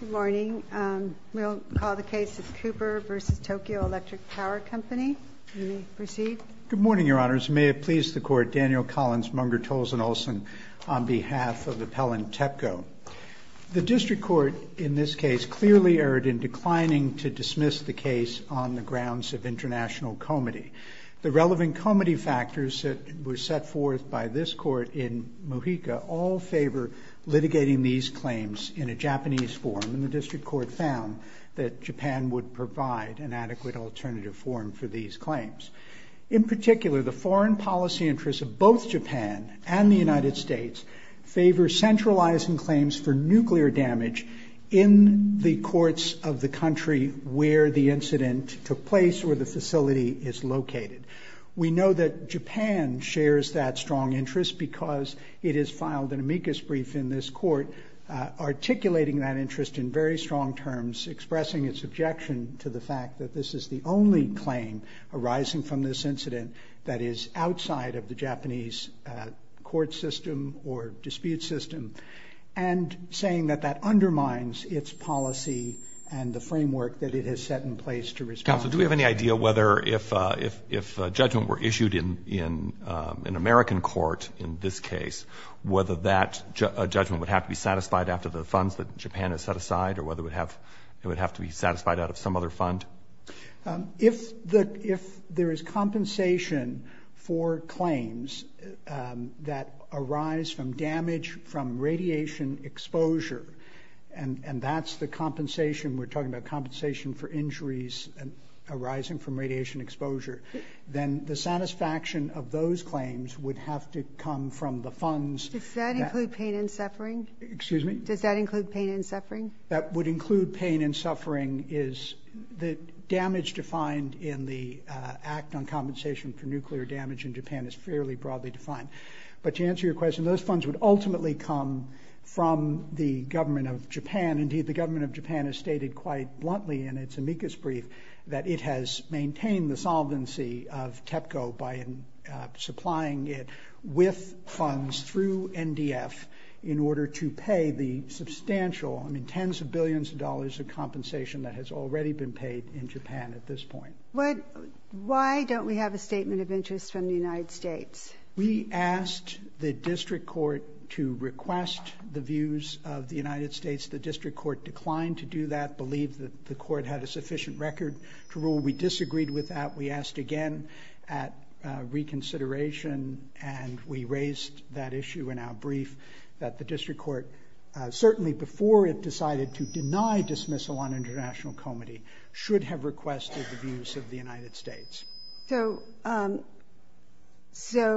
Good morning. We'll call the case of Cooper v. Tokyo Electric Power Company. You may proceed. Good morning, Your Honors. May it please the Court, Daniel Collins, Munger, Tolson, Olson, on behalf of Appellant Tepco. The District Court in this case clearly erred in declining to dismiss the case on the grounds of international comity. The relevant comity factors that were set forth by this Court in Mojica all favor litigating these claims in a Japanese form, and the District Court found that Japan would provide an adequate alternative form for these claims. In particular, the foreign policy interests of both Japan and the United States favor centralizing claims for nuclear damage in the courts of the country where the incident took place or the facility is located. We know that Japan shares that strong interest because it has filed an amicus brief in this Court articulating that interest in very strong terms, expressing its objection to the fact that this is the only claim arising from this incident that is outside of the Japanese court system or dispute system, and saying that that undermines its policy and the framework that it has set in place to respond to. Counsel, do we have any idea whether if a judgment were issued in an American court in this case, whether that judgment would have to be satisfied after the funds that Japan has set aside or whether it would have to be satisfied out of some other fund? If there is compensation for claims that arise from damage from radiation exposure, and that's the compensation we're talking about, compensation for injuries arising from radiation exposure, then the satisfaction of those claims would have to come from the funds. Does that include pain and suffering? Does that include pain and suffering? That would include pain and suffering. The damage defined in the Act on Compensation for Nuclear Damage in Japan is fairly broadly defined. But to answer your question, those funds would ultimately come from the government of Japan. Indeed, the government of Japan has stated quite bluntly in its amicus brief that it has maintained the solvency of TEPCO by supplying it with funds through NDF in order to pay the substantial tens of billions of dollars of compensation that has already been paid in Japan at this point. Why don't we have a statement of interest from the United States? We asked the district court to request the views of the United States. The district court declined to do that, believed that the court had a sufficient record to rule. We disagreed with that. We asked again at reconsideration, and we raised that issue in our brief, that the district court, certainly before it decided to deny dismissal on international comity, should have requested the views of the United States. So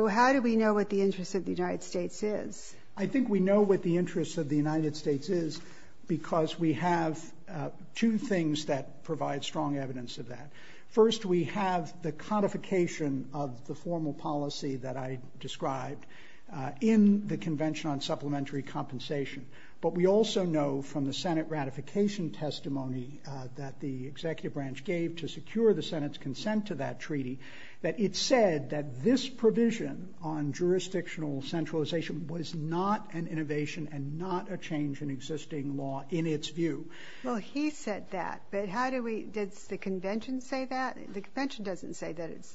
how do we know what the interest of the United States is? I think we know what the interest of the United States is because we have two things that provide strong evidence of that. First, we have the codification of the formal policy that I described in the Convention on Supplementary Compensation. But we also know from the Senate ratification testimony that the executive branch gave to secure the Senate's consent to that treaty that it said that this provision on jurisdictional centralization was not an innovation and not a change in existing law in its view. Well, he said that, but did the Convention say that? The Convention doesn't say that it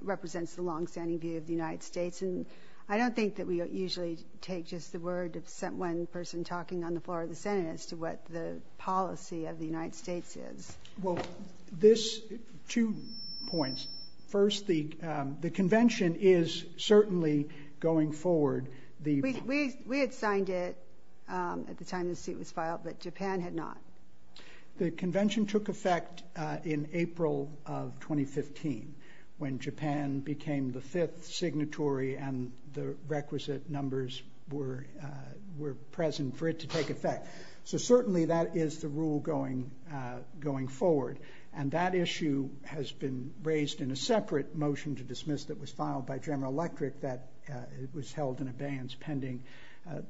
represents the long-standing view of the United States, and I don't think that we usually take just the word of one person talking on the floor of the Senate as to what the policy of the United States is. Well, two points. First, the Convention is certainly going forward. We had signed it at the time the seat was filed, but Japan had not. The Convention took effect in April of 2015 when Japan became the fifth signatory and the requisite numbers were present for it to take effect. So certainly that is the rule going forward, and that issue has been raised in a separate motion to dismiss that was filed by General Electric that was held in abeyance pending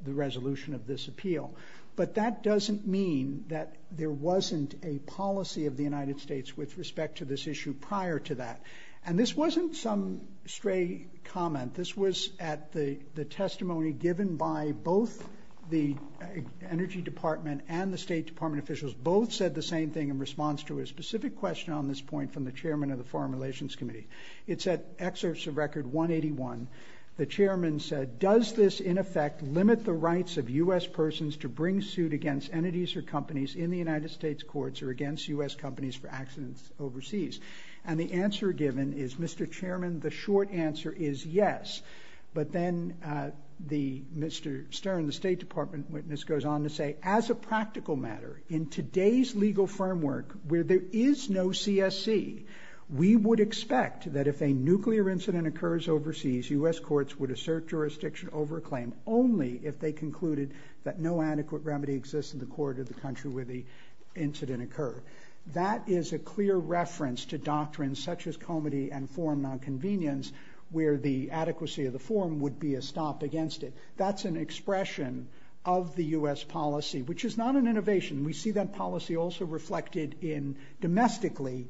the resolution of this appeal. But that doesn't mean that there wasn't a policy of the United States with respect to this issue prior to that. And this wasn't some stray comment. This was at the testimony given by both the Energy Department and the State Department officials. Both said the same thing in response to a specific question on this point from the chairman of the Foreign Relations Committee. It's at excerpts of Record 181. The chairman said, does this, in effect, limit the rights of U.S. persons to bring suit against entities or companies in the United States courts or against U.S. companies for accidents overseas? And the answer given is, Mr. Chairman, the short answer is yes. But then Mr. Stern, the State Department witness, goes on to say, as a practical matter, in today's legal framework where there is no CSC, we would expect that if a nuclear incident occurs overseas, U.S. courts would assert jurisdiction over a claim only if they concluded that no adequate remedy exists in the court of the country where the incident occurred. That is a clear reference to doctrines such as comity and forum nonconvenience where the adequacy of the forum would be a stop against it. That's an expression of the U.S. policy, which is not an innovation. We see that policy also reflected domestically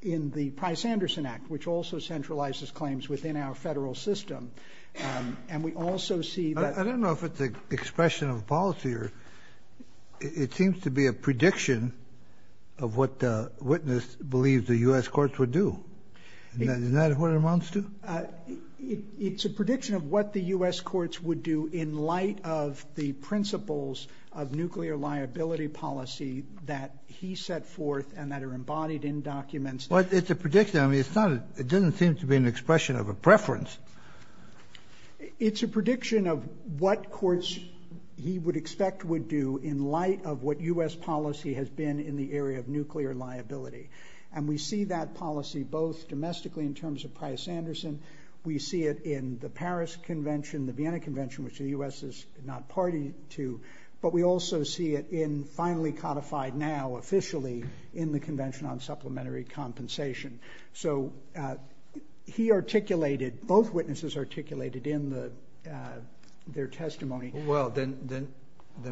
in the Price-Anderson Act, which also centralizes claims within our federal system. I don't know if it's an expression of policy. It seems to be a prediction of what the witness believes the U.S. courts would do. Isn't that what it amounts to? It's a prediction of what the U.S. courts would do in light of the principles of nuclear liability policy that he set forth and that are embodied in documents. Well, it's a prediction. I mean, it doesn't seem to be an expression of a preference. It's a prediction of what courts he would expect would do in light of what U.S. policy has been in the area of nuclear liability. And we see that policy both domestically in terms of Price-Anderson. We see it in the Paris Convention, the Vienna Convention, which the U.S. is not party to. But we also see it finally codified now officially in the Convention on Supplementary Compensation. So he articulated, both witnesses articulated in their testimony. Well, then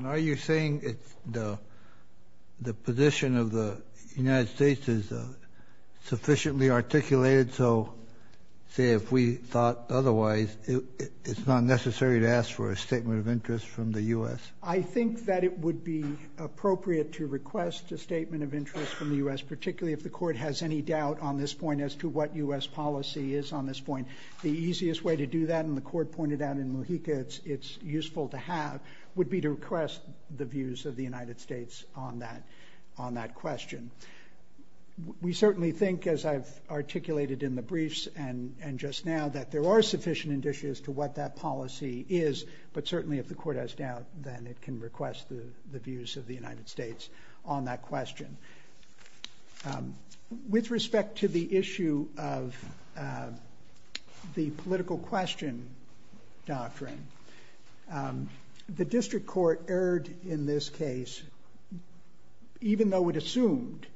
are you saying the position of the United States is sufficiently articulated so, say, if we thought otherwise, it's not necessary to ask for a statement of interest from the U.S.? I think that it would be appropriate to request a statement of interest from the U.S., particularly if the court has any doubt on this point as to what U.S. policy is on this point. And the easiest way to do that, and the court pointed out in Mojica it's useful to have, would be to request the views of the United States on that question. We certainly think, as I've articulated in the briefs and just now, that there are sufficient indicia as to what that policy is. But certainly if the court has doubt, then it can request the views of the United States on that question. With respect to the issue of the political question doctrine, the district court erred in this case even though it assumed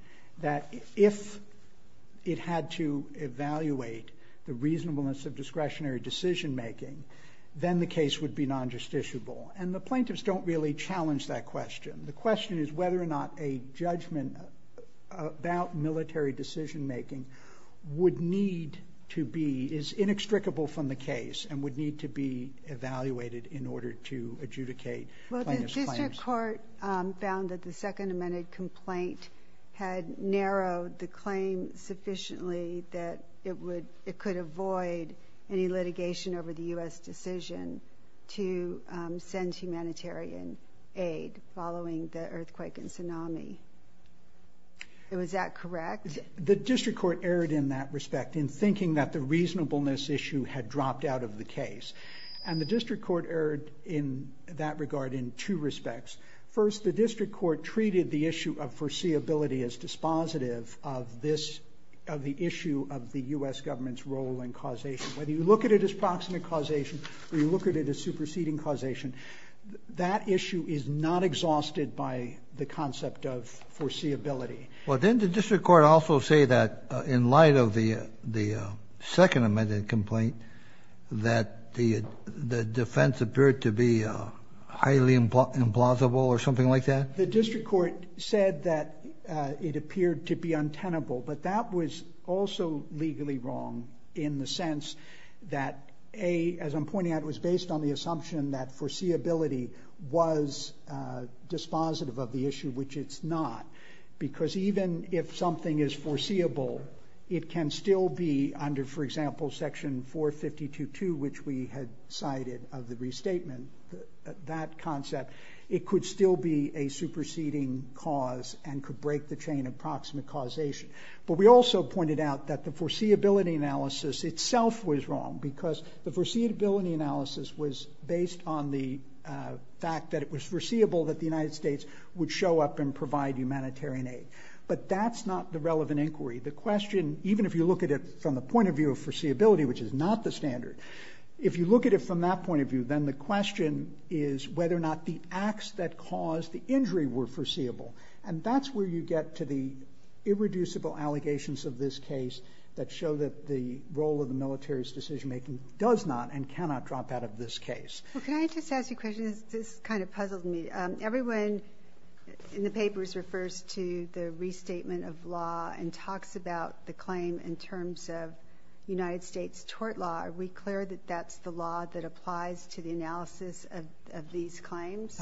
that if it had to evaluate the reasonableness of discretionary decision making, then the case would be non-justiciable. And the plaintiffs don't really challenge that question. The question is whether or not a judgment about military decision making would need to be, is inextricable from the case and would need to be evaluated in order to adjudicate plaintiff's claims. The district court found that the second amended complaint had narrowed the claim sufficiently that it could avoid any litigation over the U.S. decision to send humanitarian aid following the earthquake and tsunami. Was that correct? The district court erred in that respect in thinking that the reasonableness issue had dropped out of the case. And the district court erred in that regard in two respects. First, the district court treated the issue of foreseeability as dispositive of the issue of the U.S. government's role in causation. Whether you look at it as proximate causation or you look at it as superseding causation, that issue is not exhausted by the concept of foreseeability. Well, didn't the district court also say that in light of the second amended complaint that the defense appeared to be highly implausible or something like that? The district court said that it appeared to be untenable. But that was also legally wrong in the sense that A, as I'm pointing out, was based on the assumption that foreseeability was dispositive of the issue, which it's not. Because even if something is foreseeable, it can still be under, for example, section 452.2, which we had cited of the restatement, that concept. It could still be a superseding cause and could break the chain of proximate causation. But we also pointed out that the foreseeability analysis itself was wrong because the foreseeability analysis was based on the fact that it was foreseeable that the United States would show up and provide humanitarian aid. But that's not the relevant inquiry. The question, even if you look at it from the point of view of foreseeability, which is not the standard, if you look at it from that point of view, then the question is whether or not the acts that caused the injury were foreseeable. And that's where you get to the irreducible allegations of this case that show that the role of the military's decision making does not and cannot drop out of this case. Well, can I just ask you a question? This kind of puzzled me. Everyone in the papers refers to the restatement of law and talks about the claim in terms of United States tort law. Are we clear that that's the law that applies to the analysis of these claims?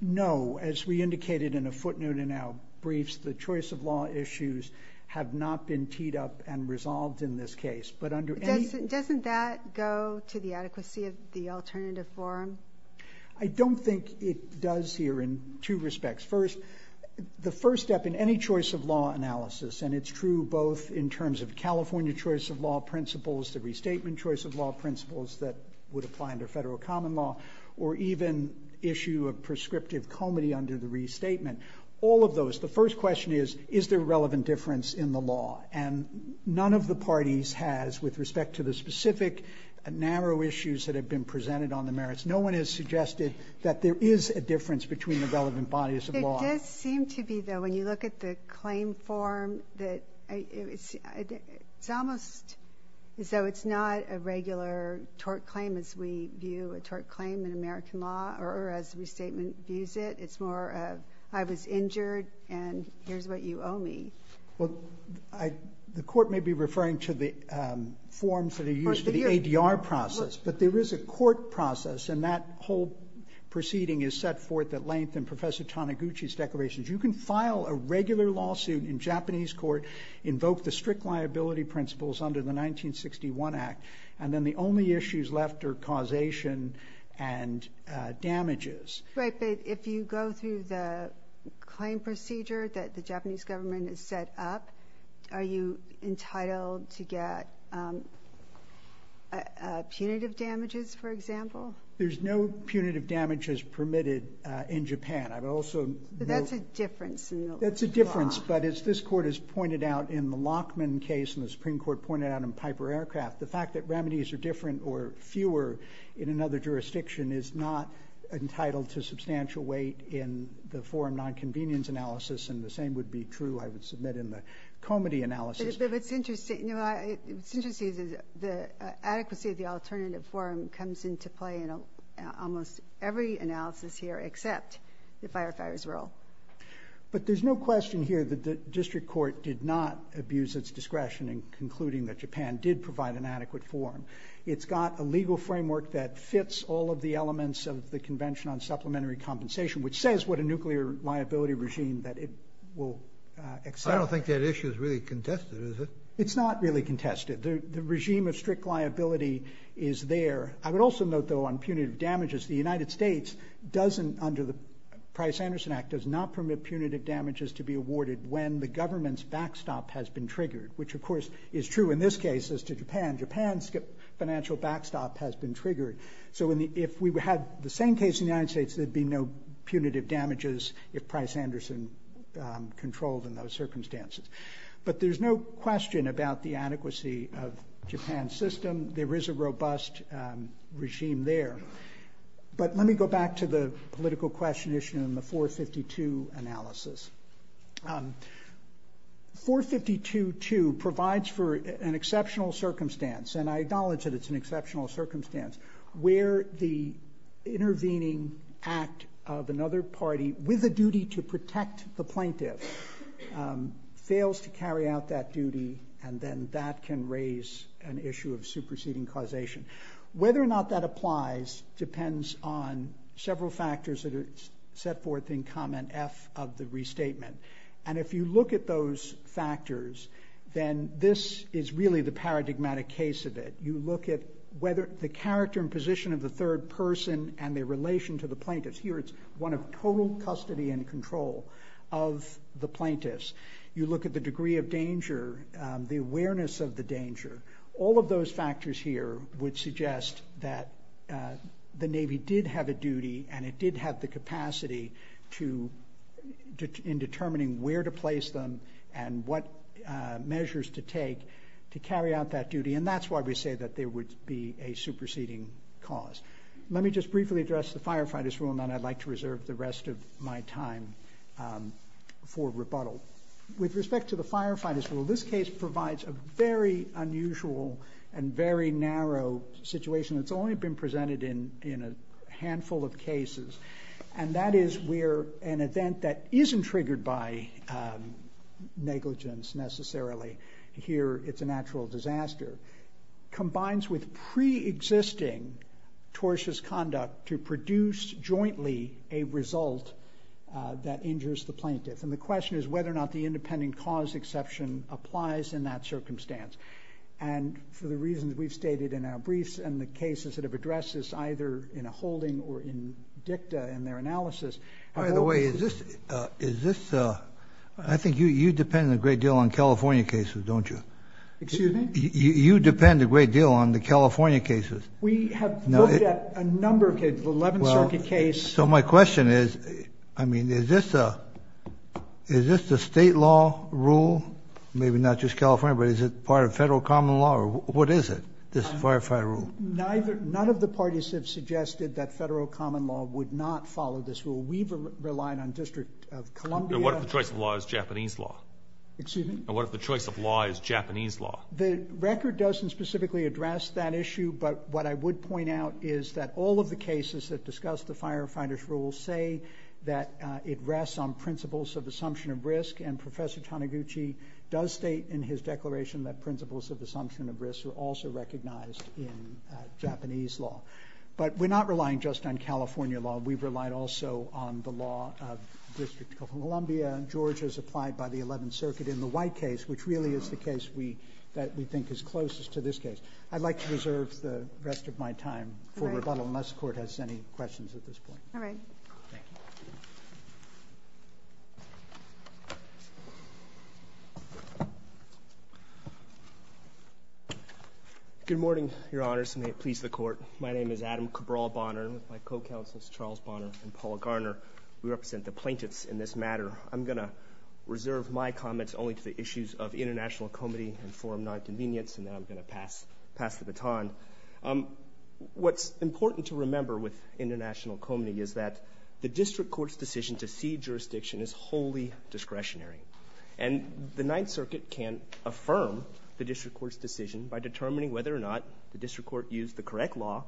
No. As we indicated in a footnote in our briefs, the choice of law issues have not been teed up and resolved in this case. Doesn't that go to the adequacy of the alternative forum? I don't think it does here in two respects. First, the first step in any choice of law analysis, and it's true both in terms of California choice of law principles, the restatement choice of law principles that would apply under federal common law, or even issue of prescriptive comity under the restatement. All of those. The first question is, is there a relevant difference in the law? None of the parties has with respect to the specific narrow issues that have been presented on the merits. No one has suggested that there is a difference between the relevant bodies of law. It does seem to be, though, when you look at the claim form, it's almost as though it's not a regular tort claim as we view a tort claim in American law or as the restatement views it. It's more of I was injured and here's what you owe me. The court may be referring to the forms that are used in the ADR process, but there is a court process, and that whole proceeding is set forth at length in Professor Taniguchi's declarations. You can file a regular lawsuit in Japanese court, invoke the strict liability principles under the 1961 Act, and then the only issues left are causation and damages. Right, but if you go through the claim procedure that the Japanese government has set up, are you entitled to get punitive damages, for example? There's no punitive damages permitted in Japan. That's a difference in the law. It's a substantial weight in the forum nonconvenience analysis, and the same would be true, I would submit, in the comity analysis. But it's interesting, the adequacy of the alternative forum comes into play in almost every analysis here except the firefighters' role. But there's no question here that the district court did not abuse its discretion in concluding that Japan did provide an adequate forum. It's got a legal framework that fits all of the elements of the Convention on Supplementary Compensation, which says what a nuclear liability regime that it will accept. I don't think that issue is really contested, is it? It's not really contested. The regime of strict liability is there. I would also note, though, on punitive damages, the United States doesn't, under the Price-Anderson Act, does not permit punitive damages to be awarded when the government's backstop has been triggered, which, of course, is true in this case as to Japan. Japan's financial backstop has been triggered. So if we had the same case in the United States, there'd be no punitive damages if Price-Anderson controlled in those circumstances. But there's no question about the adequacy of Japan's system. There is a robust regime there. But let me go back to the political question issue in the 452 analysis. 452.2 provides for an exceptional circumstance, and I acknowledge that it's an exceptional circumstance, where the intervening act of another party with a duty to protect the plaintiff fails to carry out that duty, and then that can raise an issue of superseding causation. Whether or not that applies depends on several factors that are set forth in comment F of the restatement. And if you look at those factors, then this is really the paradigmatic case of it. You look at whether the character and position of the third person and their relation to the plaintiffs. Here it's one of total custody and control of the plaintiffs. You look at the degree of danger, the awareness of the danger. All of those factors here would suggest that the Navy did have a duty, and it did have the capacity in determining where to place them and what measures to take to carry out that duty. And that's why we say that there would be a superseding cause. Let me just briefly address the firefighters' rule, and then I'd like to reserve the rest of my time for rebuttal. With respect to the firefighters' rule, this case provides a very unusual and very narrow situation. It's only been presented in a handful of cases, and that is where an event that isn't triggered by negligence necessarily, here it's a natural disaster, combines with preexisting tortious conduct to produce jointly a result that injures the plaintiff. And the question is whether or not the independent cause exception applies in that circumstance. And for the reasons we've stated in our briefs and the cases that have addressed this, either in a holding or in dicta in their analysis— By the way, is this—I think you depend a great deal on California cases, don't you? Excuse me? You depend a great deal on the California cases. We have looked at a number of cases, the 11th Circuit case— So my question is, I mean, is this a state law rule? Maybe not just California, but is it part of federal common law, or what is it, this firefighter rule? None of the parties have suggested that federal common law would not follow this rule. We've relied on District of Columbia— What if the choice of law is Japanese law? Excuse me? What if the choice of law is Japanese law? The record doesn't specifically address that issue, but what I would point out is that all of the cases that discuss the firefighter's rule say that it rests on principles of assumption of risk. And Professor Taniguchi does state in his declaration that principles of assumption of risk are also recognized in Japanese law. But we're not relying just on California law. We've relied also on the law of District of Columbia. Georgia is applied by the 11th Circuit in the White case, which really is the case that we think is closest to this case. I'd like to reserve the rest of my time for rebuttal unless the Court has any questions at this point. All right. Thank you. Good morning, Your Honors, and may it please the Court. My name is Adam Cabral Bonner, and with my co-counsels Charles Bonner and Paul Garner, we represent the plaintiffs in this matter. I'm going to reserve my comments only to the issues of international comity and forum nonconvenience, and then I'm going to pass the baton. What's important to remember with international comity is that the District Court's decision to cede jurisdiction is wholly discretionary. And the 9th Circuit can affirm the District Court's decision by determining whether or not the District Court used the correct law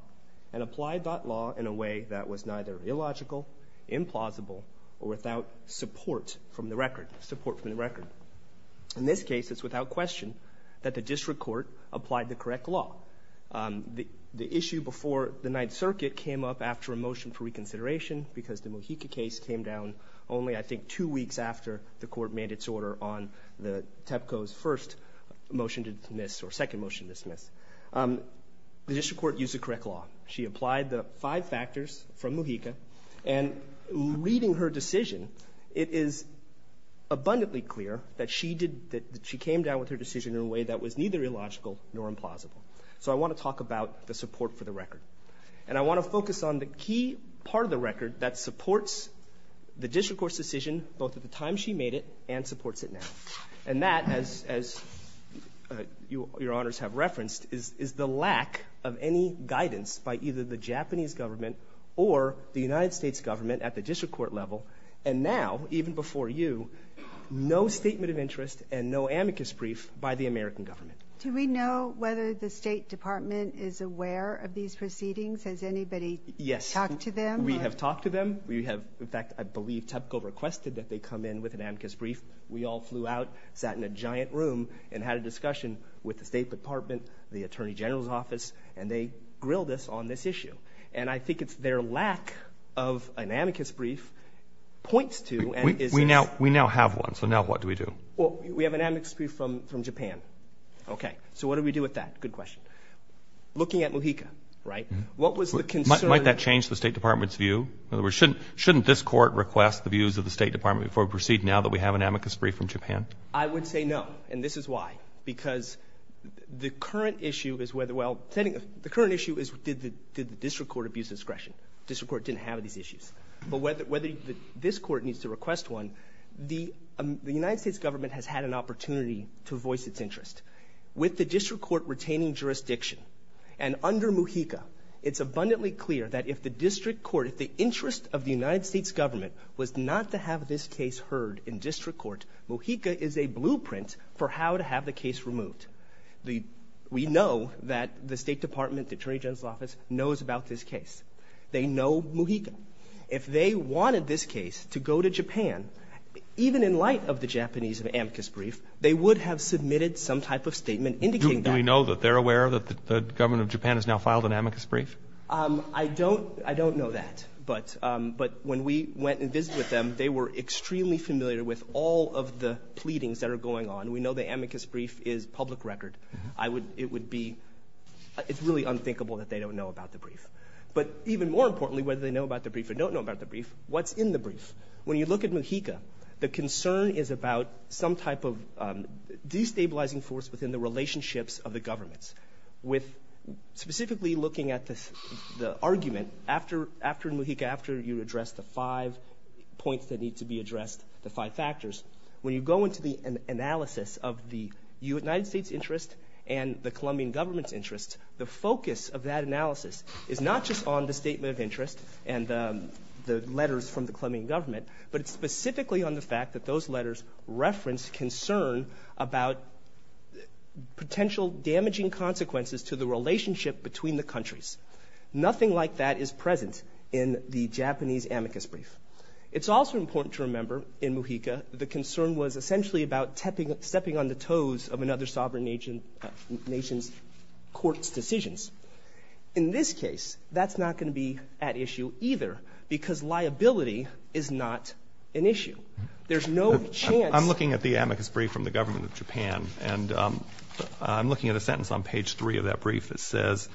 and applied that law in a way that was neither illogical, implausible, or without support from the record. In this case, it's without question that the District Court applied the correct law. The issue before the 9th Circuit came up after a motion for reconsideration because the Mojica case came down only, I think, in order on the TEPCO's first motion to dismiss or second motion to dismiss. The District Court used the correct law. She applied the five factors from Mojica, and reading her decision, it is abundantly clear that she came down with her decision in a way that was neither illogical nor implausible. So I want to talk about the support for the record. And I want to focus on the key part of the record that supports the District Court's decision both at the time she made it and supports it now. And that, as your honors have referenced, is the lack of any guidance by either the Japanese government or the United States government at the District Court level. And now, even before you, no statement of interest and no amicus brief by the American government. Do we know whether the State Department is aware of these proceedings? Has anybody talked to them? Yes. We have talked to them. We have, in fact, I believe TEPCO requested that they come in with an amicus brief. We all flew out, sat in a giant room, and had a discussion with the State Department, the Attorney General's office, and they grilled us on this issue. And I think it's their lack of an amicus brief points to and is— We now have one. So now what do we do? Well, we have an amicus brief from Japan. Okay. So what do we do with that? Good question. Looking at Mojica, right? What was the concern? Might that change the State Department's view? In other words, shouldn't this court request the views of the State Department before we proceed now that we have an amicus brief from Japan? I would say no, and this is why. Because the current issue is whether, well, the current issue is did the District Court abuse discretion? The District Court didn't have these issues. But whether this court needs to request one, the United States government has had an opportunity to voice its interest. With the District Court retaining jurisdiction, and under Mojica, it's abundantly clear that if the District Court, if the interest of the United States government, was not to have this case heard in District Court, Mojica is a blueprint for how to have the case removed. We know that the State Department, the Attorney General's office, knows about this case. They know Mojica. If they wanted this case to go to Japan, even in light of the Japanese amicus brief, they would have submitted some type of statement indicating that. Do we know that they're aware that the government of Japan has now filed an amicus brief? I don't know that. But when we went and visited with them, they were extremely familiar with all of the pleadings that are going on. We know the amicus brief is public record. It would be, it's really unthinkable that they don't know about the brief. But even more importantly, whether they know about the brief or don't know about the brief, what's in the brief? When you look at Mojica, the concern is about some type of destabilizing force within the relationships of the governments. With specifically looking at the argument, after Mojica, after you address the five points that need to be addressed, the five factors, when you go into the analysis of the United States interest and the Colombian government's interest, the focus of that analysis is not just on the statement of interest and the letters from the Colombian government, but it's specifically on the fact that those letters reference concern about potential damaging consequences to the relationship between the countries. Nothing like that is present in the Japanese amicus brief. It's also important to remember, in Mojica, the concern was essentially about stepping on the toes of another sovereign nation's court's decisions. In this case, that's not going to be at issue either, because liability is not an issue. There's no chance. I'm looking at the amicus brief from the government of Japan, and I'm looking at a sentence on page three of that brief that says,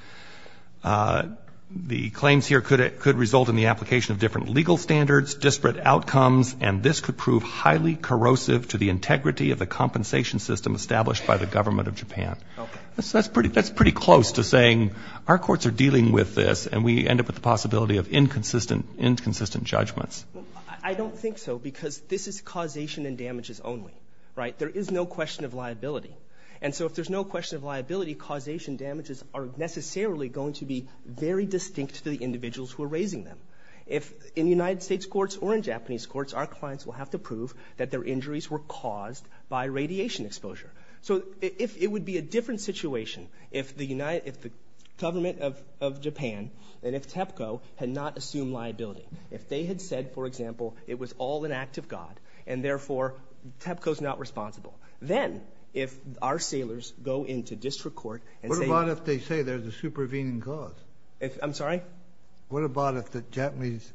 the claims here could result in the application of different legal standards, disparate outcomes, and this could prove highly corrosive to the integrity of the compensation system established by the government of Japan. That's pretty close to saying our courts are dealing with this, and we end up with the possibility of inconsistent judgments. I don't think so, because this is causation and damages only, right? There is no question of liability. And so if there's no question of liability, causation damages are necessarily going to be very distinct to the individuals who are raising them. If in the United States courts or in Japanese courts, our clients will have to prove that their injuries were caused by radiation exposure. So it would be a different situation if the government of Japan and if TEPCO had not assumed liability. If they had said, for example, it was all an act of God, and therefore TEPCO is not responsible, then if our sailors go into district court and say— What about if they say there's a supervening cause? I'm sorry? What about if the Japanese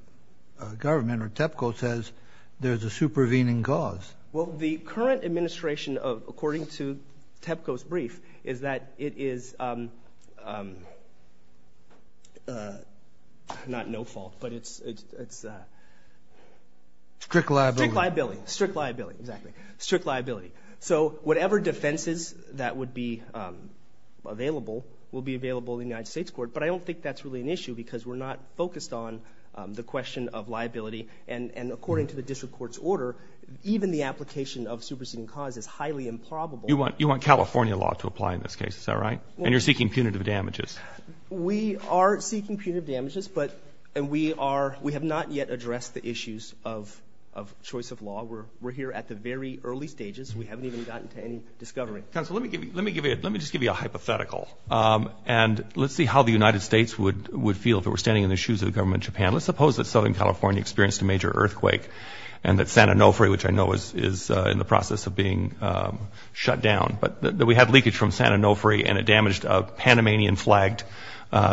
government or TEPCO says there's a supervening cause? Well, the current administration, according to TEPCO's brief, is that it is not no fault, but it's— Strict liability. Strict liability. Strict liability. Exactly. Strict liability. So whatever defenses that would be available will be available in the United States court, but I don't think that's really an issue because we're not focused on the question of liability. And according to the district court's order, even the application of supervening cause is highly improbable. You want California law to apply in this case, is that right? And you're seeking punitive damages. We are seeking punitive damages, but we have not yet addressed the issues of choice of law. We're here at the very early stages. We haven't even gotten to any discovery. Counsel, let me just give you a hypothetical, and let's see how the United States would feel if it were standing in the shoes of the government of Japan. Let's suppose that Southern California experienced a major earthquake and that San Onofre, which I know is in the process of being shut down, but that we had leakage from San Onofre and it damaged a Panamanian-flagged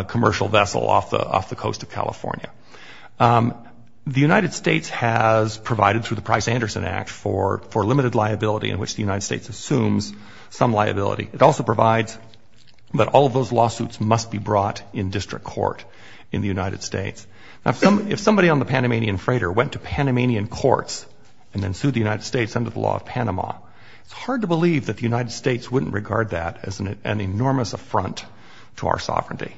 commercial vessel off the coast of California. The United States has provided, through the Price-Anderson Act, for limited liability in which the United States assumes some liability. It also provides that all of those lawsuits must be brought in district court in the United States. If somebody on the Panamanian freighter went to Panamanian courts and then sued the United States under the law of Panama, it's hard to believe that the United States wouldn't regard that as an enormous affront to our sovereignty.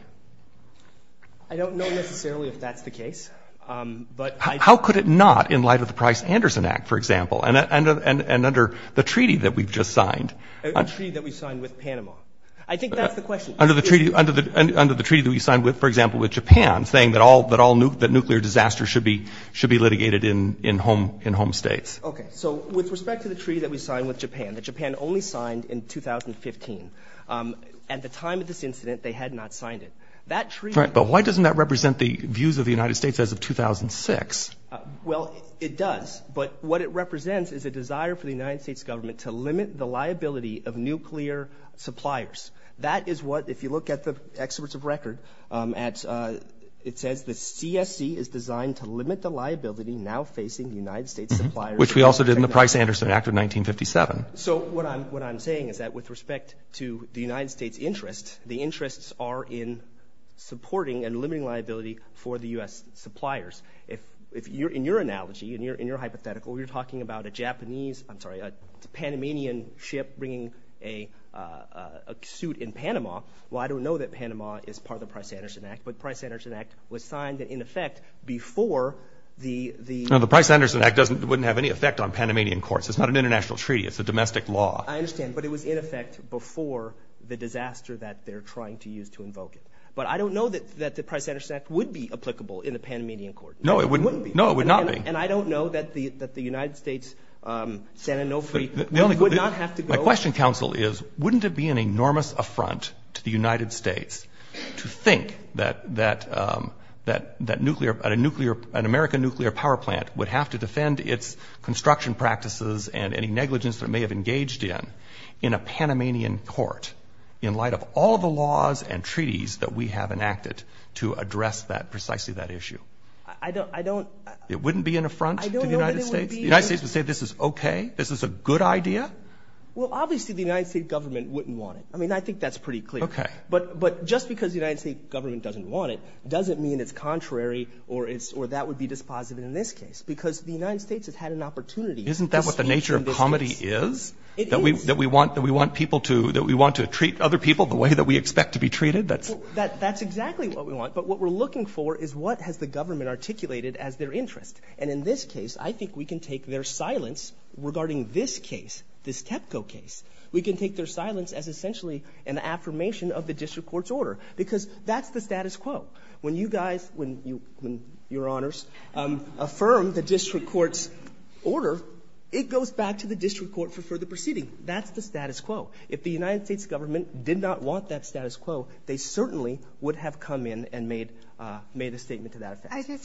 I don't know necessarily if that's the case. How could it not, in light of the Price-Anderson Act, for example, and under the treaty that we've just signed? The treaty that we signed with Panama. I think that's the question. Under the treaty that we signed, for example, with Japan, saying that nuclear disasters should be litigated in home states. Okay, so with respect to the treaty that we signed with Japan, that Japan only signed in 2015. At the time of this incident, they had not signed it. But why doesn't that represent the views of the United States as of 2006? Well, it does, but what it represents is a desire for the United States government to limit the liability of nuclear suppliers. That is what, if you look at the experts of record, it says the CSC is designed to limit the liability now facing the United States suppliers. Which we also did in the Price-Anderson Act of 1957. So what I'm saying is that with respect to the United States' interest, the interests are in supporting and limiting liability for the U.S. suppliers. In your analogy, in your hypothetical, you're talking about a Japanese, I'm sorry, a Panamanian ship bringing a suit in Panama. Well, I don't know that Panama is part of the Price-Anderson Act, but the Price-Anderson Act was signed in effect before the— No, the Price-Anderson Act wouldn't have any effect on Panamanian courts. It's not an international treaty. It's a domestic law. I understand, but it was in effect before the disaster that they're trying to use to invoke it. But I don't know that the Price-Anderson Act would be applicable in a Panamanian court. No, it wouldn't be. No, it would not be. And I don't know that the United States, San Onofre, would not have to go— My question, counsel, is wouldn't it be an enormous affront to the United States to think that an American nuclear power plant would have to defend its construction practices and any negligence that it may have engaged in in a Panamanian court in light of all the laws and treaties that we have enacted to address precisely that issue? I don't— It wouldn't be an affront to the United States? I don't know that it would be. The United States would say this is okay, this is a good idea? Well, obviously, the United States government wouldn't want it. I mean, I think that's pretty clear. Okay. But just because the United States government doesn't want it doesn't mean it's contrary or that would be dispositive in this case because the United States has had an opportunity to speak in this case. Isn't that what the nature of comedy is? It is. That we want people to—that we want to treat other people the way that we expect to be treated? That's exactly what we want. But what we're looking for is what has the government articulated as their interest. And in this case, I think we can take their silence regarding this case, this TEPCO case. We can take their silence as essentially an affirmation of the district court's order because that's the status quo. When you guys—when your honors affirm the district court's order, it goes back to the district court for further proceeding. That's the status quo. If the United States government did not want that status quo, they certainly would have come in and made a statement to that effect.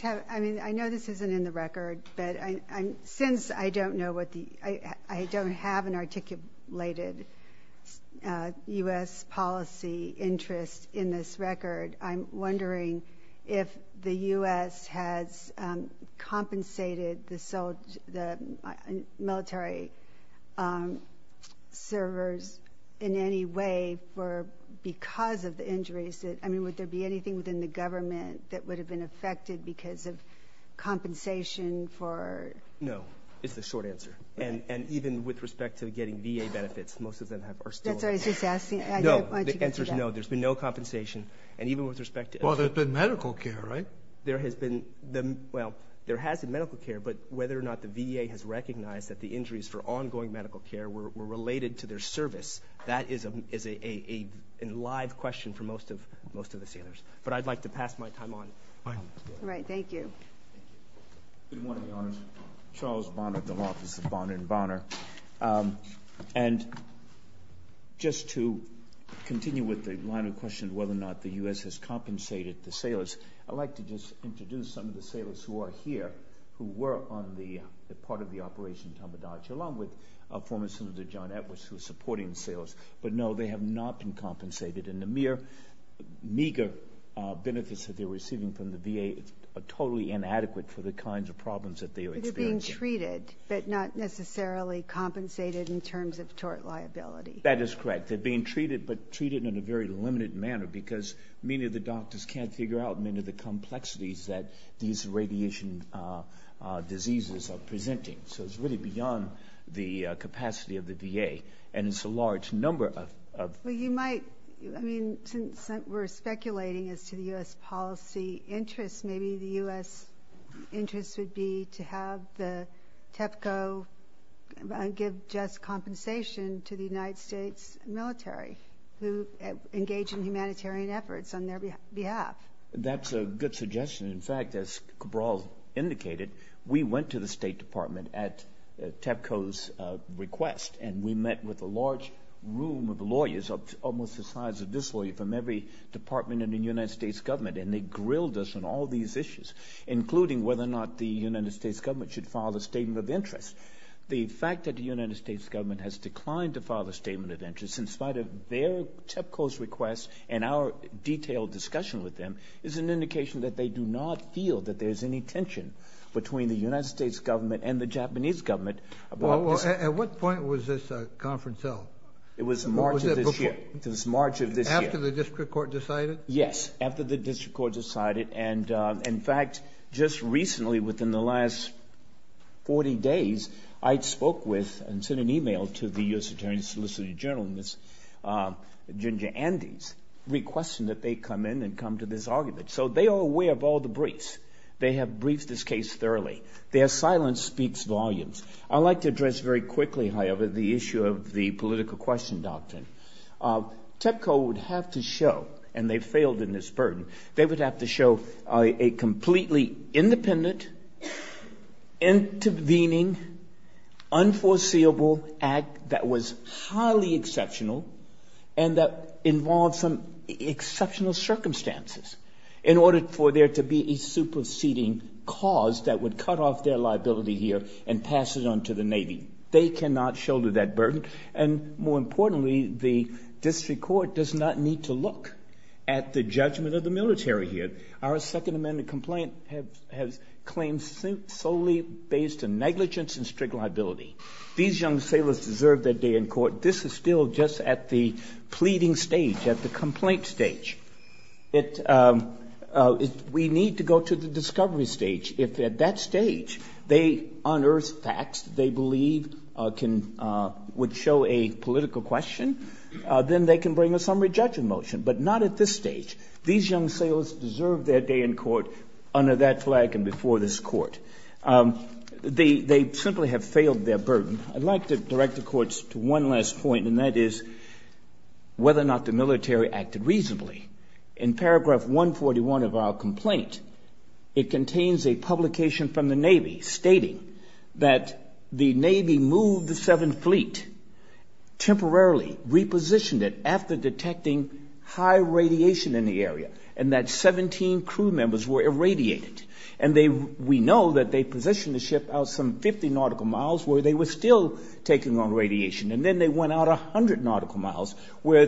Since I don't know what the—I don't have an articulated U.S. policy interest in this record, I'm wondering if the U.S. has compensated the military servers in any way because of the injuries. I mean, would there be anything within the government that would have been affected because of compensation for— No, is the short answer. And even with respect to getting VA benefits, most of them are still— That's what I was just asking. No, the answer is no. There's been no compensation. And even with respect to— Well, there's been medical care, right? There has been—well, there has been medical care, but whether or not the VA has recognized that the injuries for ongoing medical care were related to their service, that is a live question for most of the sailors. But I'd like to pass my time on. All right. Thank you. Good morning, Your Honors. Charles Bonner, the Law Offices of Bonner & Bonner. And just to continue with the line of question of whether or not the U.S. has compensated the sailors, I'd like to just introduce some of the sailors who are here, who were on the part of the Operation Tomodachi, along with former Senator John Edwards, who is supporting the sailors. But no, they have not been compensated. And the mere meager benefits that they're receiving from the VA are totally inadequate for the kinds of problems that they are experiencing. They're being treated, but not necessarily compensated in terms of tort liability. That is correct. They're being treated, but treated in a very limited manner because many of the doctors can't figure out many of the complexities that these radiation diseases are presenting. So it's really beyond the capacity of the VA. And it's a large number of— Well, you might—I mean, since we're speculating as to the U.S. policy interests, maybe the U.S. interest would be to have the TEPCO give just compensation to the United States military who engage in humanitarian efforts on their behalf. That's a good suggestion. In fact, as Cabral indicated, we went to the State Department at TEPCO's request, and we met with a large room of lawyers, almost the size of this lawyer from every department in the United States government, and they grilled us on all these issues, including whether or not the United States government should file a statement of interest. The fact that the United States government has declined to file a statement of interest in spite of their TEPCO's request and our detailed discussion with them is an indication that they do not feel that there's any tension between the United States government and the Japanese government about this. At what point was this conference held? It was March of this year. Was it before? It was March of this year. After the district court decided? Yes, after the district court decided. And, in fact, just recently, within the last 40 days, I spoke with and sent an email to the U.S. Attorney's Solicitor General, Ginger Andes, requesting that they come in and come to this argument. So they are aware of all the briefs. They have briefed this case thoroughly. Their silence speaks volumes. I'd like to address very quickly, however, the issue of the political question doctrine. TEPCO would have to show, and they failed in this burden, they would have to show a completely independent, intervening, unforeseeable act that was highly exceptional and that involved some exceptional circumstances in order for there to be a superseding cause that would cut off their liability here and pass it on to the Navy. They cannot shoulder that burden. And, more importantly, the district court does not need to look at the judgment of the military here. Our Second Amendment complaint has claims solely based on negligence and strict liability. These young sailors deserve their day in court. This is still just at the pleading stage, at the complaint stage. We need to go to the discovery stage. If at that stage they unearth facts they believe would show a political question, then they can bring a summary judgment motion. But not at this stage. These young sailors deserve their day in court under that flag and before this court. They simply have failed their burden. I'd like to direct the courts to one last point, and that is whether or not the military acted reasonably. In paragraph 141 of our complaint, it contains a publication from the Navy stating that the Navy moved the 7th Fleet, temporarily repositioned it after detecting high radiation in the area, and that 17 crew members were irradiated. And we know that they positioned the ship out some 50 nautical miles where they were still taking on radiation. And then they went out 100 nautical miles where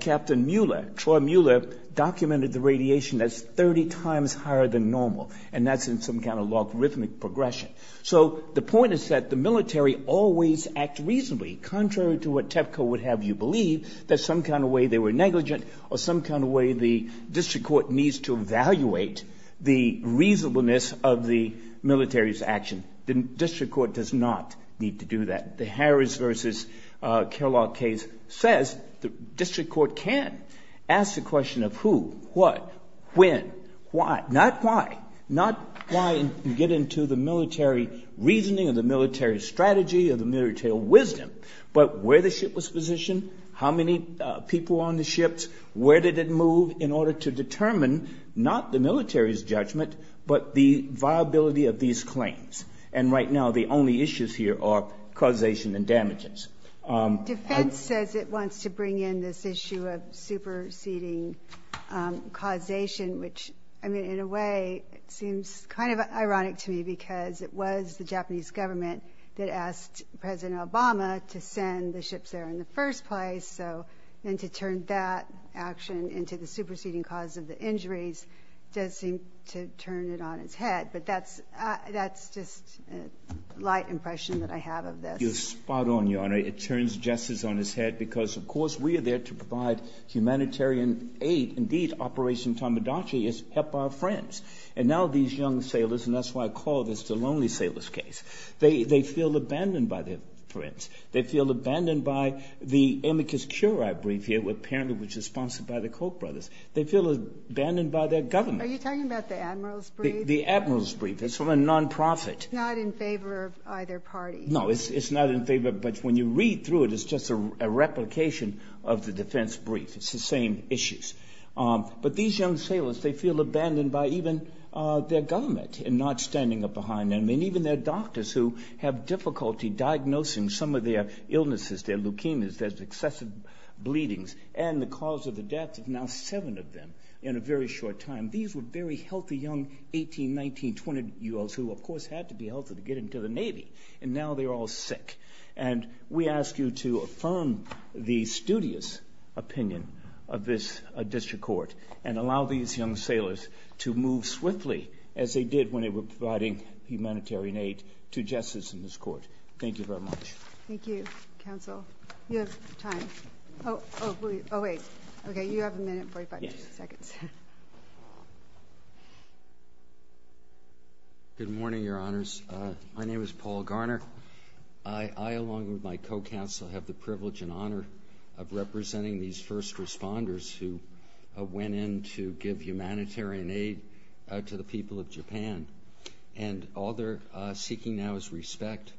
Captain Mueller, Troy Mueller, documented the radiation as 30 times higher than normal. And that's in some kind of logarithmic progression. So the point is that the military always act reasonably, contrary to what TEPCO would have you believe, that some kind of way they were negligent or some kind of way the district court needs to evaluate the reasonableness of the military's action. The district court does not need to do that. The Harris versus Kellogg case says the district court can ask the question of who, what, when, why. Not why. Not why you get into the military reasoning or the military strategy or the military wisdom, but where the ship was positioned, how many people were on the ships, where did it move, in order to determine not the military's judgment, but the viability of these claims. And right now the only issues here are causation and damages. Defense says it wants to bring in this issue of superseding causation, which in a way seems kind of ironic to me because it was the Japanese government that asked President Obama to send the ships there in the first place. And to turn that action into the superseding cause of the injuries does seem to turn it on its head. But that's just a light impression that I have of this. You're spot on, Your Honor. It turns justice on its head because, of course, we are there to provide humanitarian aid. Indeed, Operation Tamadachi is help our friends. And now these young sailors, and that's why I call this the lonely sailors case, they feel abandoned by their friends. They feel abandoned by the Amicus Curia brief here, apparently which is sponsored by the Koch brothers. They feel abandoned by their government. Are you talking about the Admiral's brief? The Admiral's brief. It's from a nonprofit. It's not in favor of either party. No, it's not in favor, but when you read through it, it's just a replication of the defense brief. It's the same issues. But these young sailors, they feel abandoned by even their government in not standing up behind them and even their doctors who have difficulty diagnosing some of their illnesses, their leukemias, their excessive bleedings, and the cause of the death of now seven of them in a very short time. These were very healthy young 18, 19, 20-year-olds who of course had to be healthy to get into the Navy, and now they're all sick. And we ask you to affirm the studious opinion of this district court and allow these young sailors to move swiftly as they did when they were providing humanitarian aid to justice in this court. Thank you very much. Thank you, counsel. You have time. Oh, wait. Okay, you have a minute and 45 seconds. Good morning, Your Honors. My name is Paul Garner. I, along with my co-counsel, have the privilege and honor of representing these first responders who went in to give humanitarian aid to the people of Japan. And all they're seeking now is respect,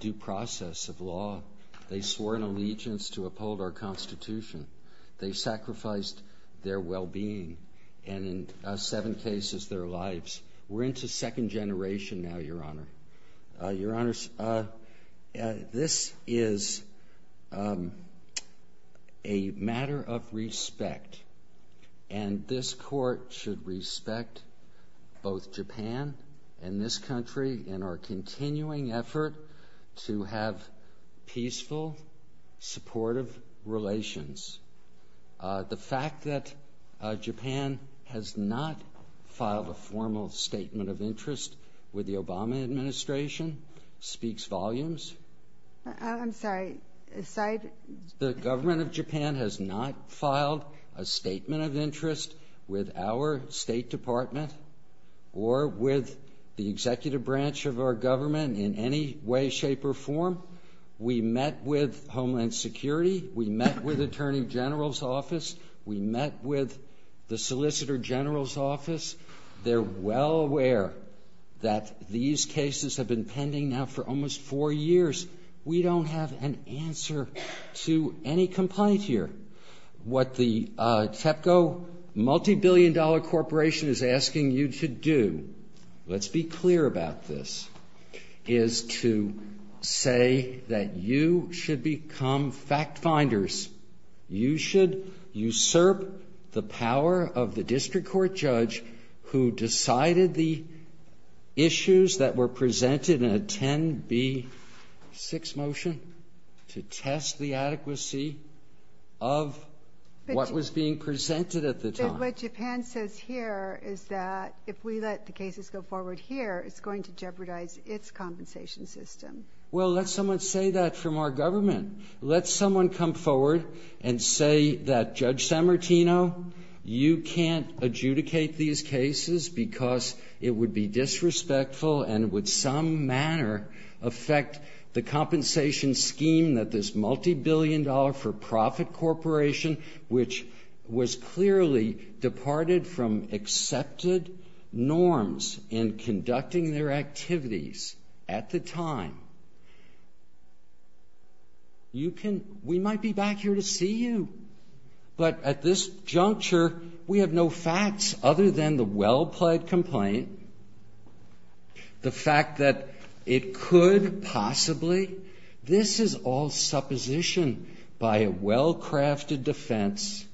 due process of law. They swore an allegiance to uphold our Constitution. They sacrificed their well-being and, in seven cases, their lives. We're into second generation now, Your Honor. Your Honors, this is a matter of respect, and this court should respect both Japan and this country in our continuing effort to have peaceful, supportive relations. The fact that Japan has not filed a formal statement of interest with the Obama administration speaks volumes. I'm sorry. The government of Japan has not filed a statement of interest with our State Department or with the executive branch of our government in any way, shape, or form. We met with Homeland Security. We met with Attorney General's Office. We met with the Solicitor General's Office. They're well aware that these cases have been pending now for almost four years. We don't have an answer to any complaint here. What the TEPCO multibillion-dollar corporation is asking you to do, let's be clear about this, is to say that you should become fact-finders. You should usurp the power of the district court judge who decided the issues that were presented in a 10B6 motion to test the adequacy of what was being presented at the time. But what Japan says here is that if we let the cases go forward here, it's going to jeopardize its compensation system. Well, let someone say that from our government. Let someone come forward and say that, Judge Sammartino, you can't adjudicate these cases because it would be disrespectful and would some manner affect the compensation scheme that this multibillion-dollar-for-profit corporation, which was clearly departed from accepted norms in conducting their activities at the time. We might be back here to see you. But at this juncture, we have no facts other than the well-plaid complaint, the fact that it could possibly, this is all supposition by a well-crafted defense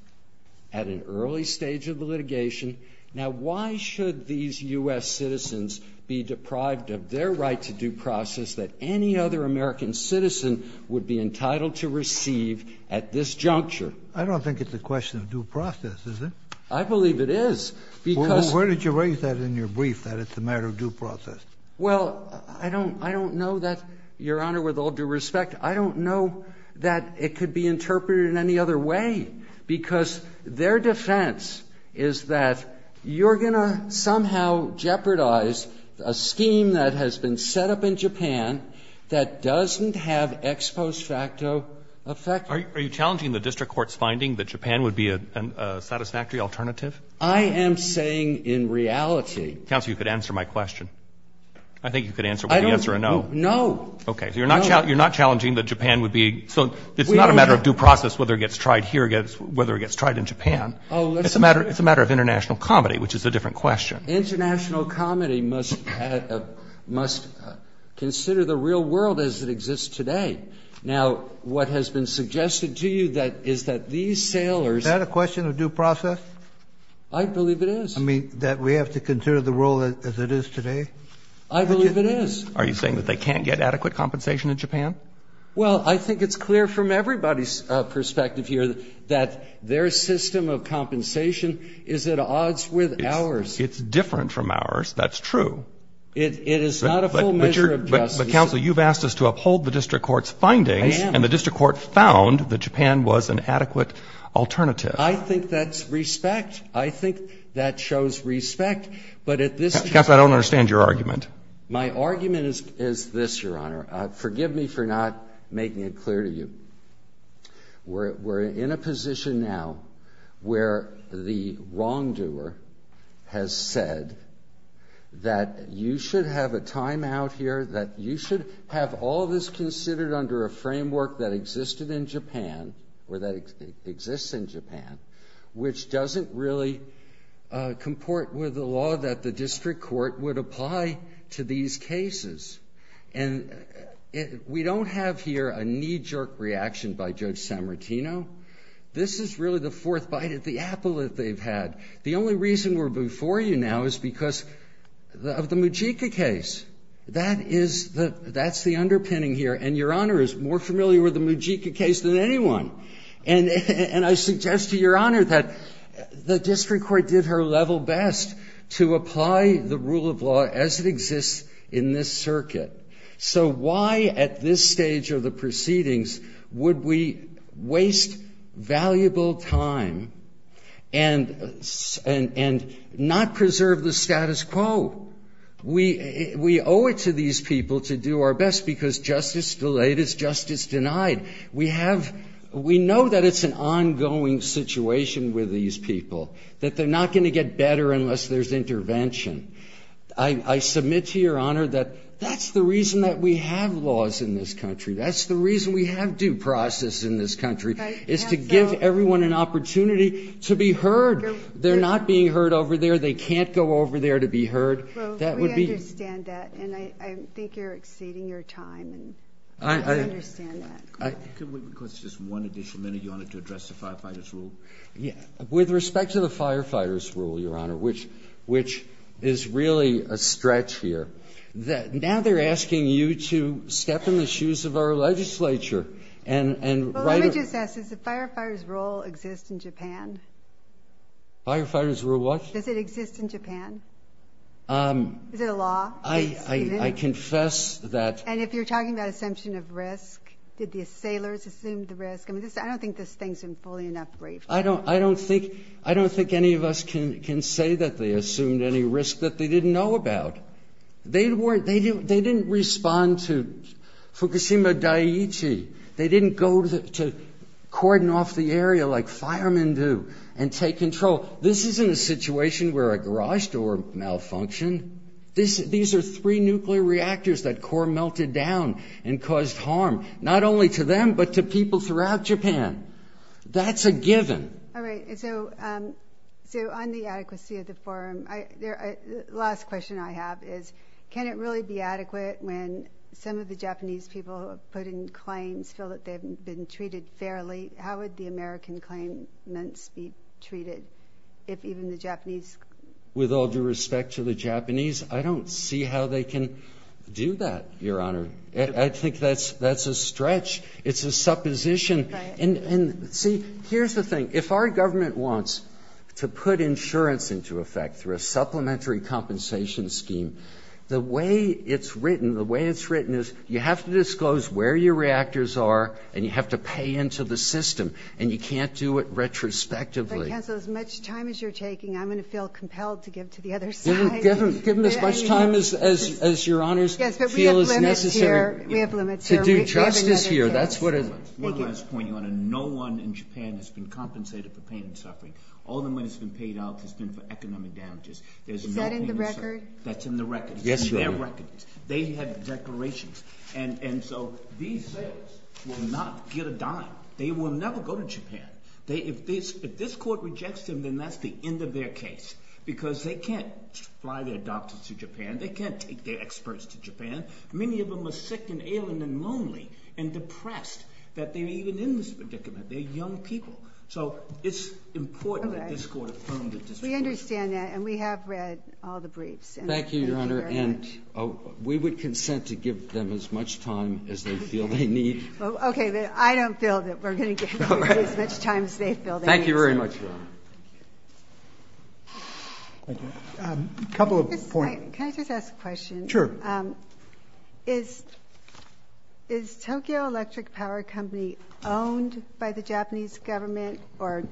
at an early stage of the litigation. Now, why should these U.S. citizens be deprived of their right to due process that any other American citizen would be entitled to receive at this juncture? I don't think it's a question of due process, is it? I believe it is. Where did you raise that in your brief, that it's a matter of due process? Well, I don't know that, Your Honor, with all due respect, I don't know that it could be interpreted in any other way, because their defense is that you're going to somehow jeopardize a scheme that has been set up in Japan that doesn't have ex post facto effect. Are you challenging the district court's finding that Japan would be a satisfactory alternative? I am saying in reality. Counsel, you could answer my question. I think you could answer it with the answer of no. No. Okay. So you're not challenging that Japan would be so it's not a matter of due process whether it gets tried here or whether it gets tried in Japan. It's a matter of international comedy, which is a different question. International comedy must consider the real world as it exists today. Now, what has been suggested to you is that these sailors ---- Is that a question of due process? I believe it is. I mean, that we have to consider the world as it is today? I believe it is. Are you saying that they can't get adequate compensation in Japan? Well, I think it's clear from everybody's perspective here that their system of compensation is at odds with ours. It's different from ours. That's true. It is not a full measure of justice. But, Counsel, you've asked us to uphold the district court's findings. I am. And the district court found that Japan was an adequate alternative. I think that's respect. I think that shows respect. But at this ---- Counsel, I don't understand your argument. My argument is this, Your Honor. Forgive me for not making it clear to you. We're in a position now where the wrongdoer has said that you should have a time out here, that you should have all this considered under a framework that existed in Japan, or that exists in Japan, which doesn't really comport with the law that the district court would apply to these cases. And we don't have here a knee-jerk reaction by Judge Sammartino. This is really the fourth bite of the apple that they've had. The only reason we're before you now is because of the Mujika case. That is the ---- that's the underpinning here. And Your Honor is more familiar with the Mujika case than anyone. And I suggest to Your Honor that the district court did her level best to apply the rule of law as it exists in this circuit. So why at this stage of the proceedings would we waste valuable time and not preserve the status quo? We owe it to these people to do our best because justice delayed is justice denied. We have ---- we know that it's an ongoing situation with these people, that they're not going to get better unless there's intervention. I submit to Your Honor that that's the reason that we have laws in this country. That's the reason we have due process in this country is to give everyone an opportunity to be heard. They're not being heard over there. They can't go over there to be heard. That would be ---- Well, we understand that. And I think you're exceeding your time. I understand that. Could we request just one additional minute, Your Honor, to address the firefighters' rule? With respect to the firefighters' rule, Your Honor, which is really a stretch here, now they're asking you to step in the shoes of our legislature and write a ---- Well, let me just ask. Does the firefighters' rule exist in Japan? Firefighters' rule what? Does it exist in Japan? Is it a law? I confess that ---- And if you're talking about assumption of risk, did the assailants assume the risk? I don't think this thing is fully enough brief. I don't think any of us can say that they assumed any risk that they didn't know about. They didn't respond to Fukushima Daiichi. They didn't go to cordon off the area like firemen do and take control. This isn't a situation where a garage door malfunctioned. These are three nuclear reactors that core melted down and caused harm, not only to them, but to people throughout Japan. That's a given. All right. So on the adequacy of the forum, the last question I have is, can it really be adequate when some of the Japanese people who have put in claims feel that they've been treated fairly? How would the American claimants be treated if even the Japanese ---- With all due respect to the Japanese, I don't see how they can do that, Your Honor. I think that's a stretch. It's a supposition. And, see, here's the thing. If our government wants to put insurance into effect through a supplementary compensation scheme, the way it's written is you have to disclose where your reactors are and you have to pay into the system, and you can't do it retrospectively. But, counsel, as much time as you're taking, I'm going to feel compelled to give to the other side. Give them as much time as your honors feel is necessary to do justice here. One last point, Your Honor. No one in Japan has been compensated for pain and suffering. All the money that's been paid out has been for economic damages. Is that in the record? That's in the record. Yes, Your Honor. They have declarations. And so these sales will not get a dime. They will never go to Japan. If this court rejects them, then that's the end of their case because they can't fly their doctors to Japan. They can't take their experts to Japan. Many of them are sick and ailing and lonely and depressed that they're even in this predicament. They're young people. So it's important that this court affirms it. We understand that, and we have read all the briefs. Thank you, Your Honor, and we would consent to give them as much time as they feel they need. Okay, but I don't feel that we're going to give them as much time as they feel they need. Thank you very much, Your Honor. Thank you. A couple of points. Can I just ask a question? Sure. Is Tokyo Electric Power Company owned by the Japanese government or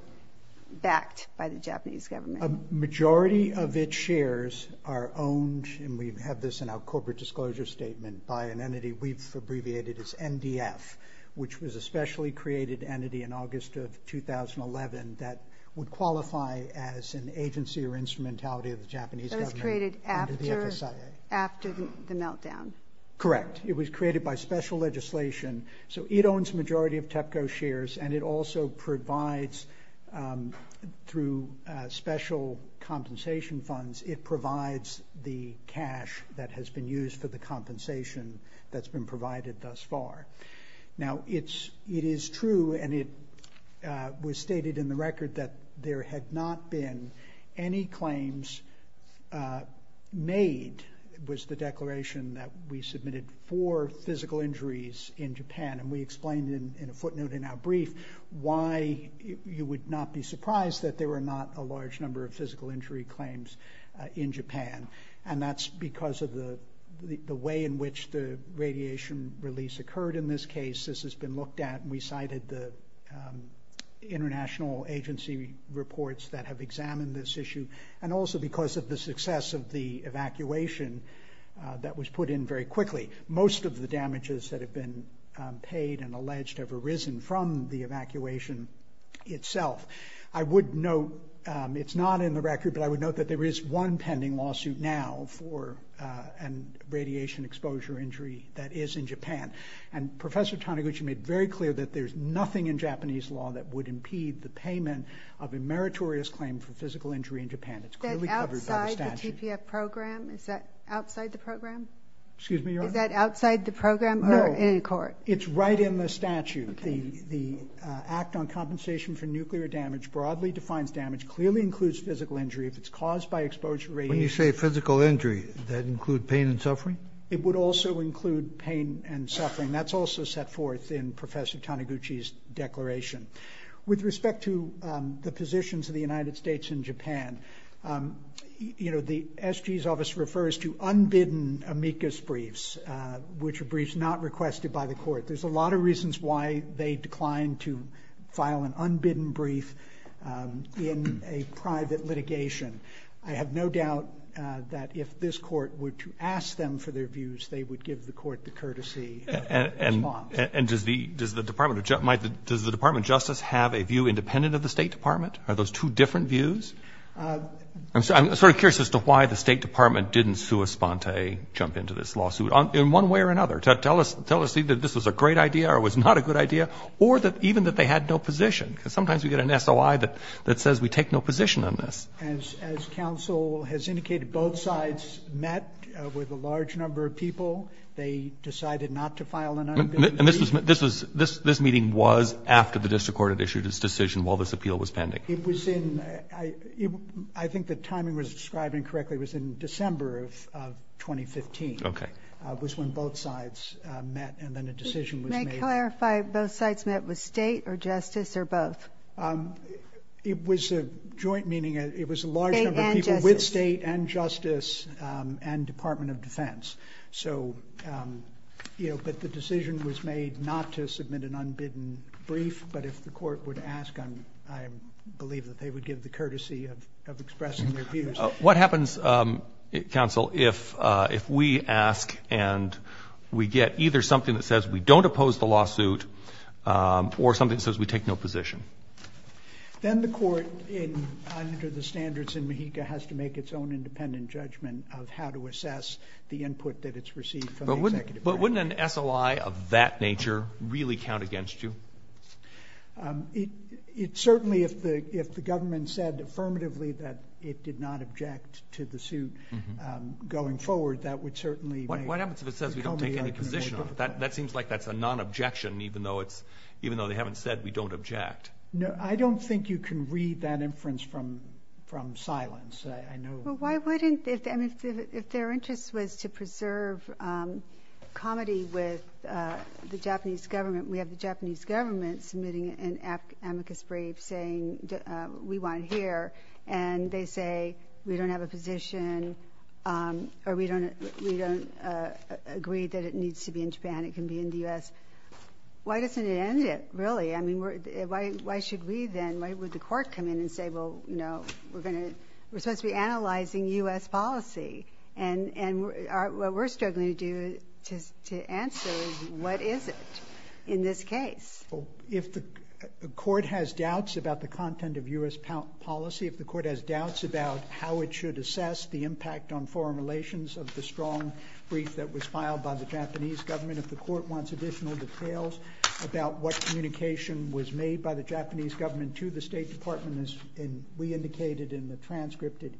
backed by the Japanese government? A majority of its shares are owned, and we have this in our corporate disclosure statement, by an entity we've abbreviated as NDF, which was a specially created entity in August of 2011 that would qualify as an agency or instrumentality of the Japanese government under the FSIA. That was created after the meltdown? Correct. It was created by special legislation. So it owns a majority of TEPCO shares, and it also provides, through special compensation funds, it provides the cash that has been used for the compensation that's been provided thus far. Now, it is true, and it was stated in the record, that there had not been any claims made, was the declaration that we submitted, for physical injuries in Japan. And we explained in a footnote in our brief why you would not be surprised that there were not a large number of physical injury claims in Japan. And that's because of the way in which the radiation release occurred in this case. This has been looked at. We cited the international agency reports that have examined this issue, and also because of the success of the evacuation that was put in very quickly. Most of the damages that have been paid and alleged have arisen from the evacuation itself. I would note, it's not in the record, but I would note that there is one pending lawsuit now for a radiation exposure injury that is in Japan. And Professor Taniguchi made very clear that there's nothing in Japanese law that would impede the payment of a meritorious claim for physical injury in Japan. It's clearly covered by the statute. Is that outside the TPF program? Is that outside the program? Excuse me, Your Honor? Is that outside the program or in court? No, it's right in the statute. The Act on Compensation for Nuclear Damage broadly defines damage, clearly includes physical injury if it's caused by exposure to radiation. When you say physical injury, does that include pain and suffering? It would also include pain and suffering. That's also set forth in Professor Taniguchi's declaration. With respect to the positions of the United States and Japan, you know, the SG's office refers to unbidden amicus briefs, which are briefs not requested by the court. There's a lot of reasons why they declined to file an unbidden brief in a private litigation. I have no doubt that if this court were to ask them for their views, they would give the court the courtesy to respond. And does the Department of Justice have a view independent of the State Department? Are those two different views? I'm sort of curious as to why the State Department didn't sui sponte, jump into this lawsuit in one way or another, to tell us either this was a great idea or it was not a good idea, or even that they had no position. Because sometimes we get an SOI that says we take no position on this. As counsel has indicated, both sides met with a large number of people. They decided not to file an unbidden brief. And this meeting was after the district court had issued its decision while this appeal was pending. It was in, I think the timing was described incorrectly, it was in December of 2015. Okay. It was when both sides met and then a decision was made. May I clarify, both sides met with State or Justice or both? It was a joint meeting. It was a large number of people with State and Justice and Department of Defense. So, you know, but the decision was made not to submit an unbidden brief, but if the court would ask, I believe that they would give the courtesy of expressing their views. What happens, counsel, if we ask and we get either something that says we don't oppose the lawsuit or something that says we take no position? Then the court, under the standards in MAHICA, has to make its own independent judgment of how to assess the input that it's received from the executive branch. But wouldn't an SOI of that nature really count against you? It certainly, if the government said affirmatively that it did not object to the suit going forward, that would certainly make it become a liability. What happens if it says we don't take any position? That seems like that's a non-objection, even though they haven't said we don't object. No, I don't think you can read that inference from silence. Well, why wouldn't, if their interest was to preserve comedy with the Japanese government, we have the Japanese government submitting an amicus brief saying we want to hear, and they say we don't have a position or we don't agree that it needs to be in Japan, it can be in the U.S. Why doesn't it end it, really? Why should we then, why would the court come in and say we're supposed to be analyzing U.S. policy, and what we're struggling to do to answer is what is it in this case? If the court has doubts about the content of U.S. policy, if the court has doubts about how it should assess the impact on foreign relations of the strong brief that was filed by the Japanese government, if the court wants additional details about what communication was made by the Japanese government to the State Department, as we indicated in the transcripted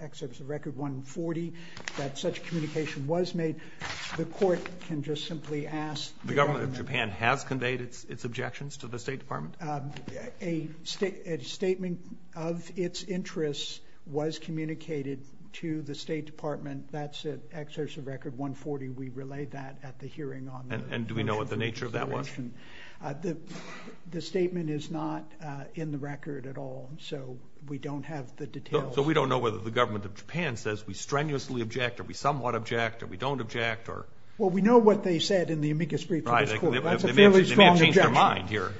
excerpts of Record 140 that such communication was made, the court can just simply ask the government. The government of Japan has conveyed its objections to the State Department? A statement of its interests was communicated to the State Department. That's an excerpt of Record 140. We relayed that at the hearing on the motion. And do we know what the nature of that was? The statement is not in the record at all, so we don't have the details. So we don't know whether the government of Japan says we strenuously object or we somewhat object or we don't object? Well, we know what they said in the amicus brief to this court. That's a fairly strong objection. They may have changed their mind here.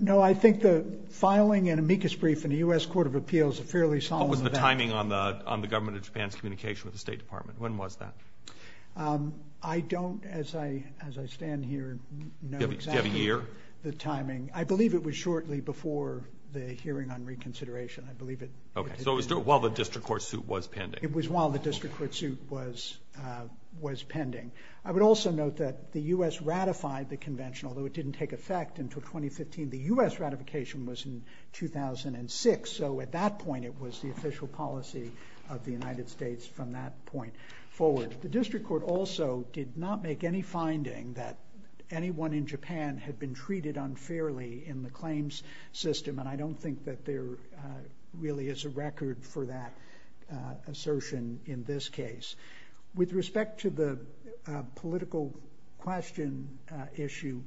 No, I think the filing an amicus brief in the U.S. Court of Appeals is a fairly solemn event. What was the timing on the government of Japan's communication with the State Department? When was that? I don't, as I stand here, know exactly the timing. Do you have a year? I believe it was shortly before the hearing on reconsideration. Okay, so it was while the district court suit was pending. It was while the district court suit was pending. I would also note that the U.S. ratified the convention, although it didn't take effect until 2015. The U.S. ratification was in 2006, so at that point it was the official policy of the United States from that point forward. The district court also did not make any finding that anyone in Japan had been treated unfairly in the claims system, and I don't think that there really is a record for that assertion in this case. With respect to the political question issue,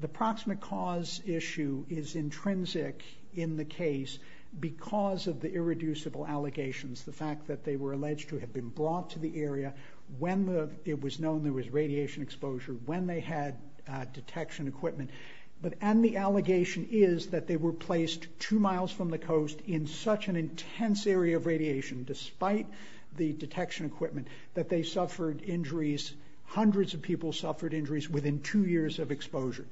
the proximate cause issue is intrinsic in the case because of the irreducible allegations. The fact that they were alleged to have been brought to the area when it was known there was radiation exposure, when they had detection equipment, and the allegation is that they were placed two miles from the coast in such an intense area of radiation, despite the detection equipment, that they suffered injuries, hundreds of people suffered injuries within two years of exposure.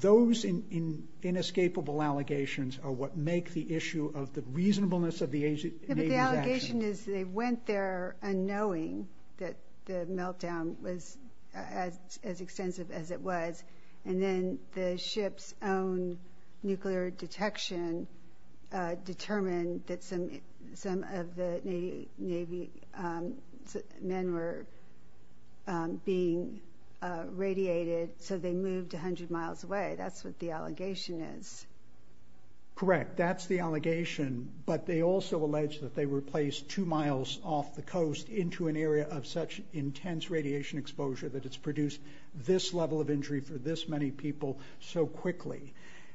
Those inescapable allegations are what make the issue of the reasonableness of the Navy's actions. But the allegation is they went there unknowing that the meltdown was as extensive as it was, and then the ship's own nuclear detection determined that some of the Navy men were being radiated, so they moved 100 miles away, that's what the allegation is. Correct, that's the allegation, but they also allege that they were placed two miles off the coast into an area of such intense radiation exposure that it's produced this level of injury for this many people so quickly.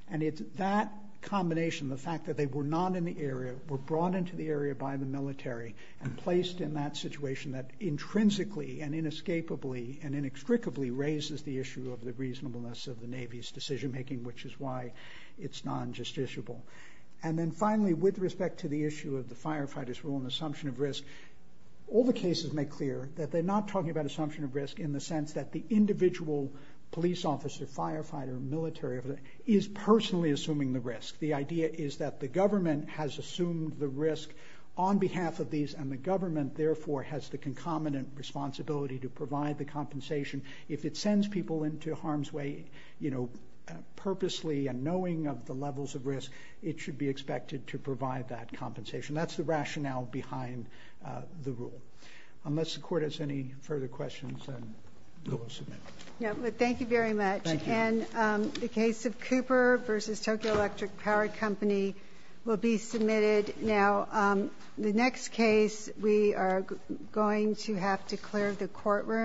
And it's that combination, the fact that they were not in the area, were brought into the area by the military, and placed in that situation that intrinsically and inescapably and inextricably raises the issue of the reasonableness of the Navy's decision-making, which is why it's non-justiciable. And then finally, with respect to the issue of the firefighters' role in the assumption of risk, all the cases make clear that they're not talking about assumption of risk in the sense that the individual police officer, firefighter, military officer is personally assuming the risk. The idea is that the government has assumed the risk on behalf of these, and the government therefore has the concomitant responsibility to provide the compensation. If it sends people into harm's way, you know, purposely and knowing of the levels of risk, it should be expected to provide that compensation. That's the rationale behind the rule. Unless the court has any further questions, then we'll go ahead and submit. Thank you very much. Thank you. And the case of Cooper v. Tokyo Electric Power Company will be submitted now. The next case we are going to have to clear the courtroom.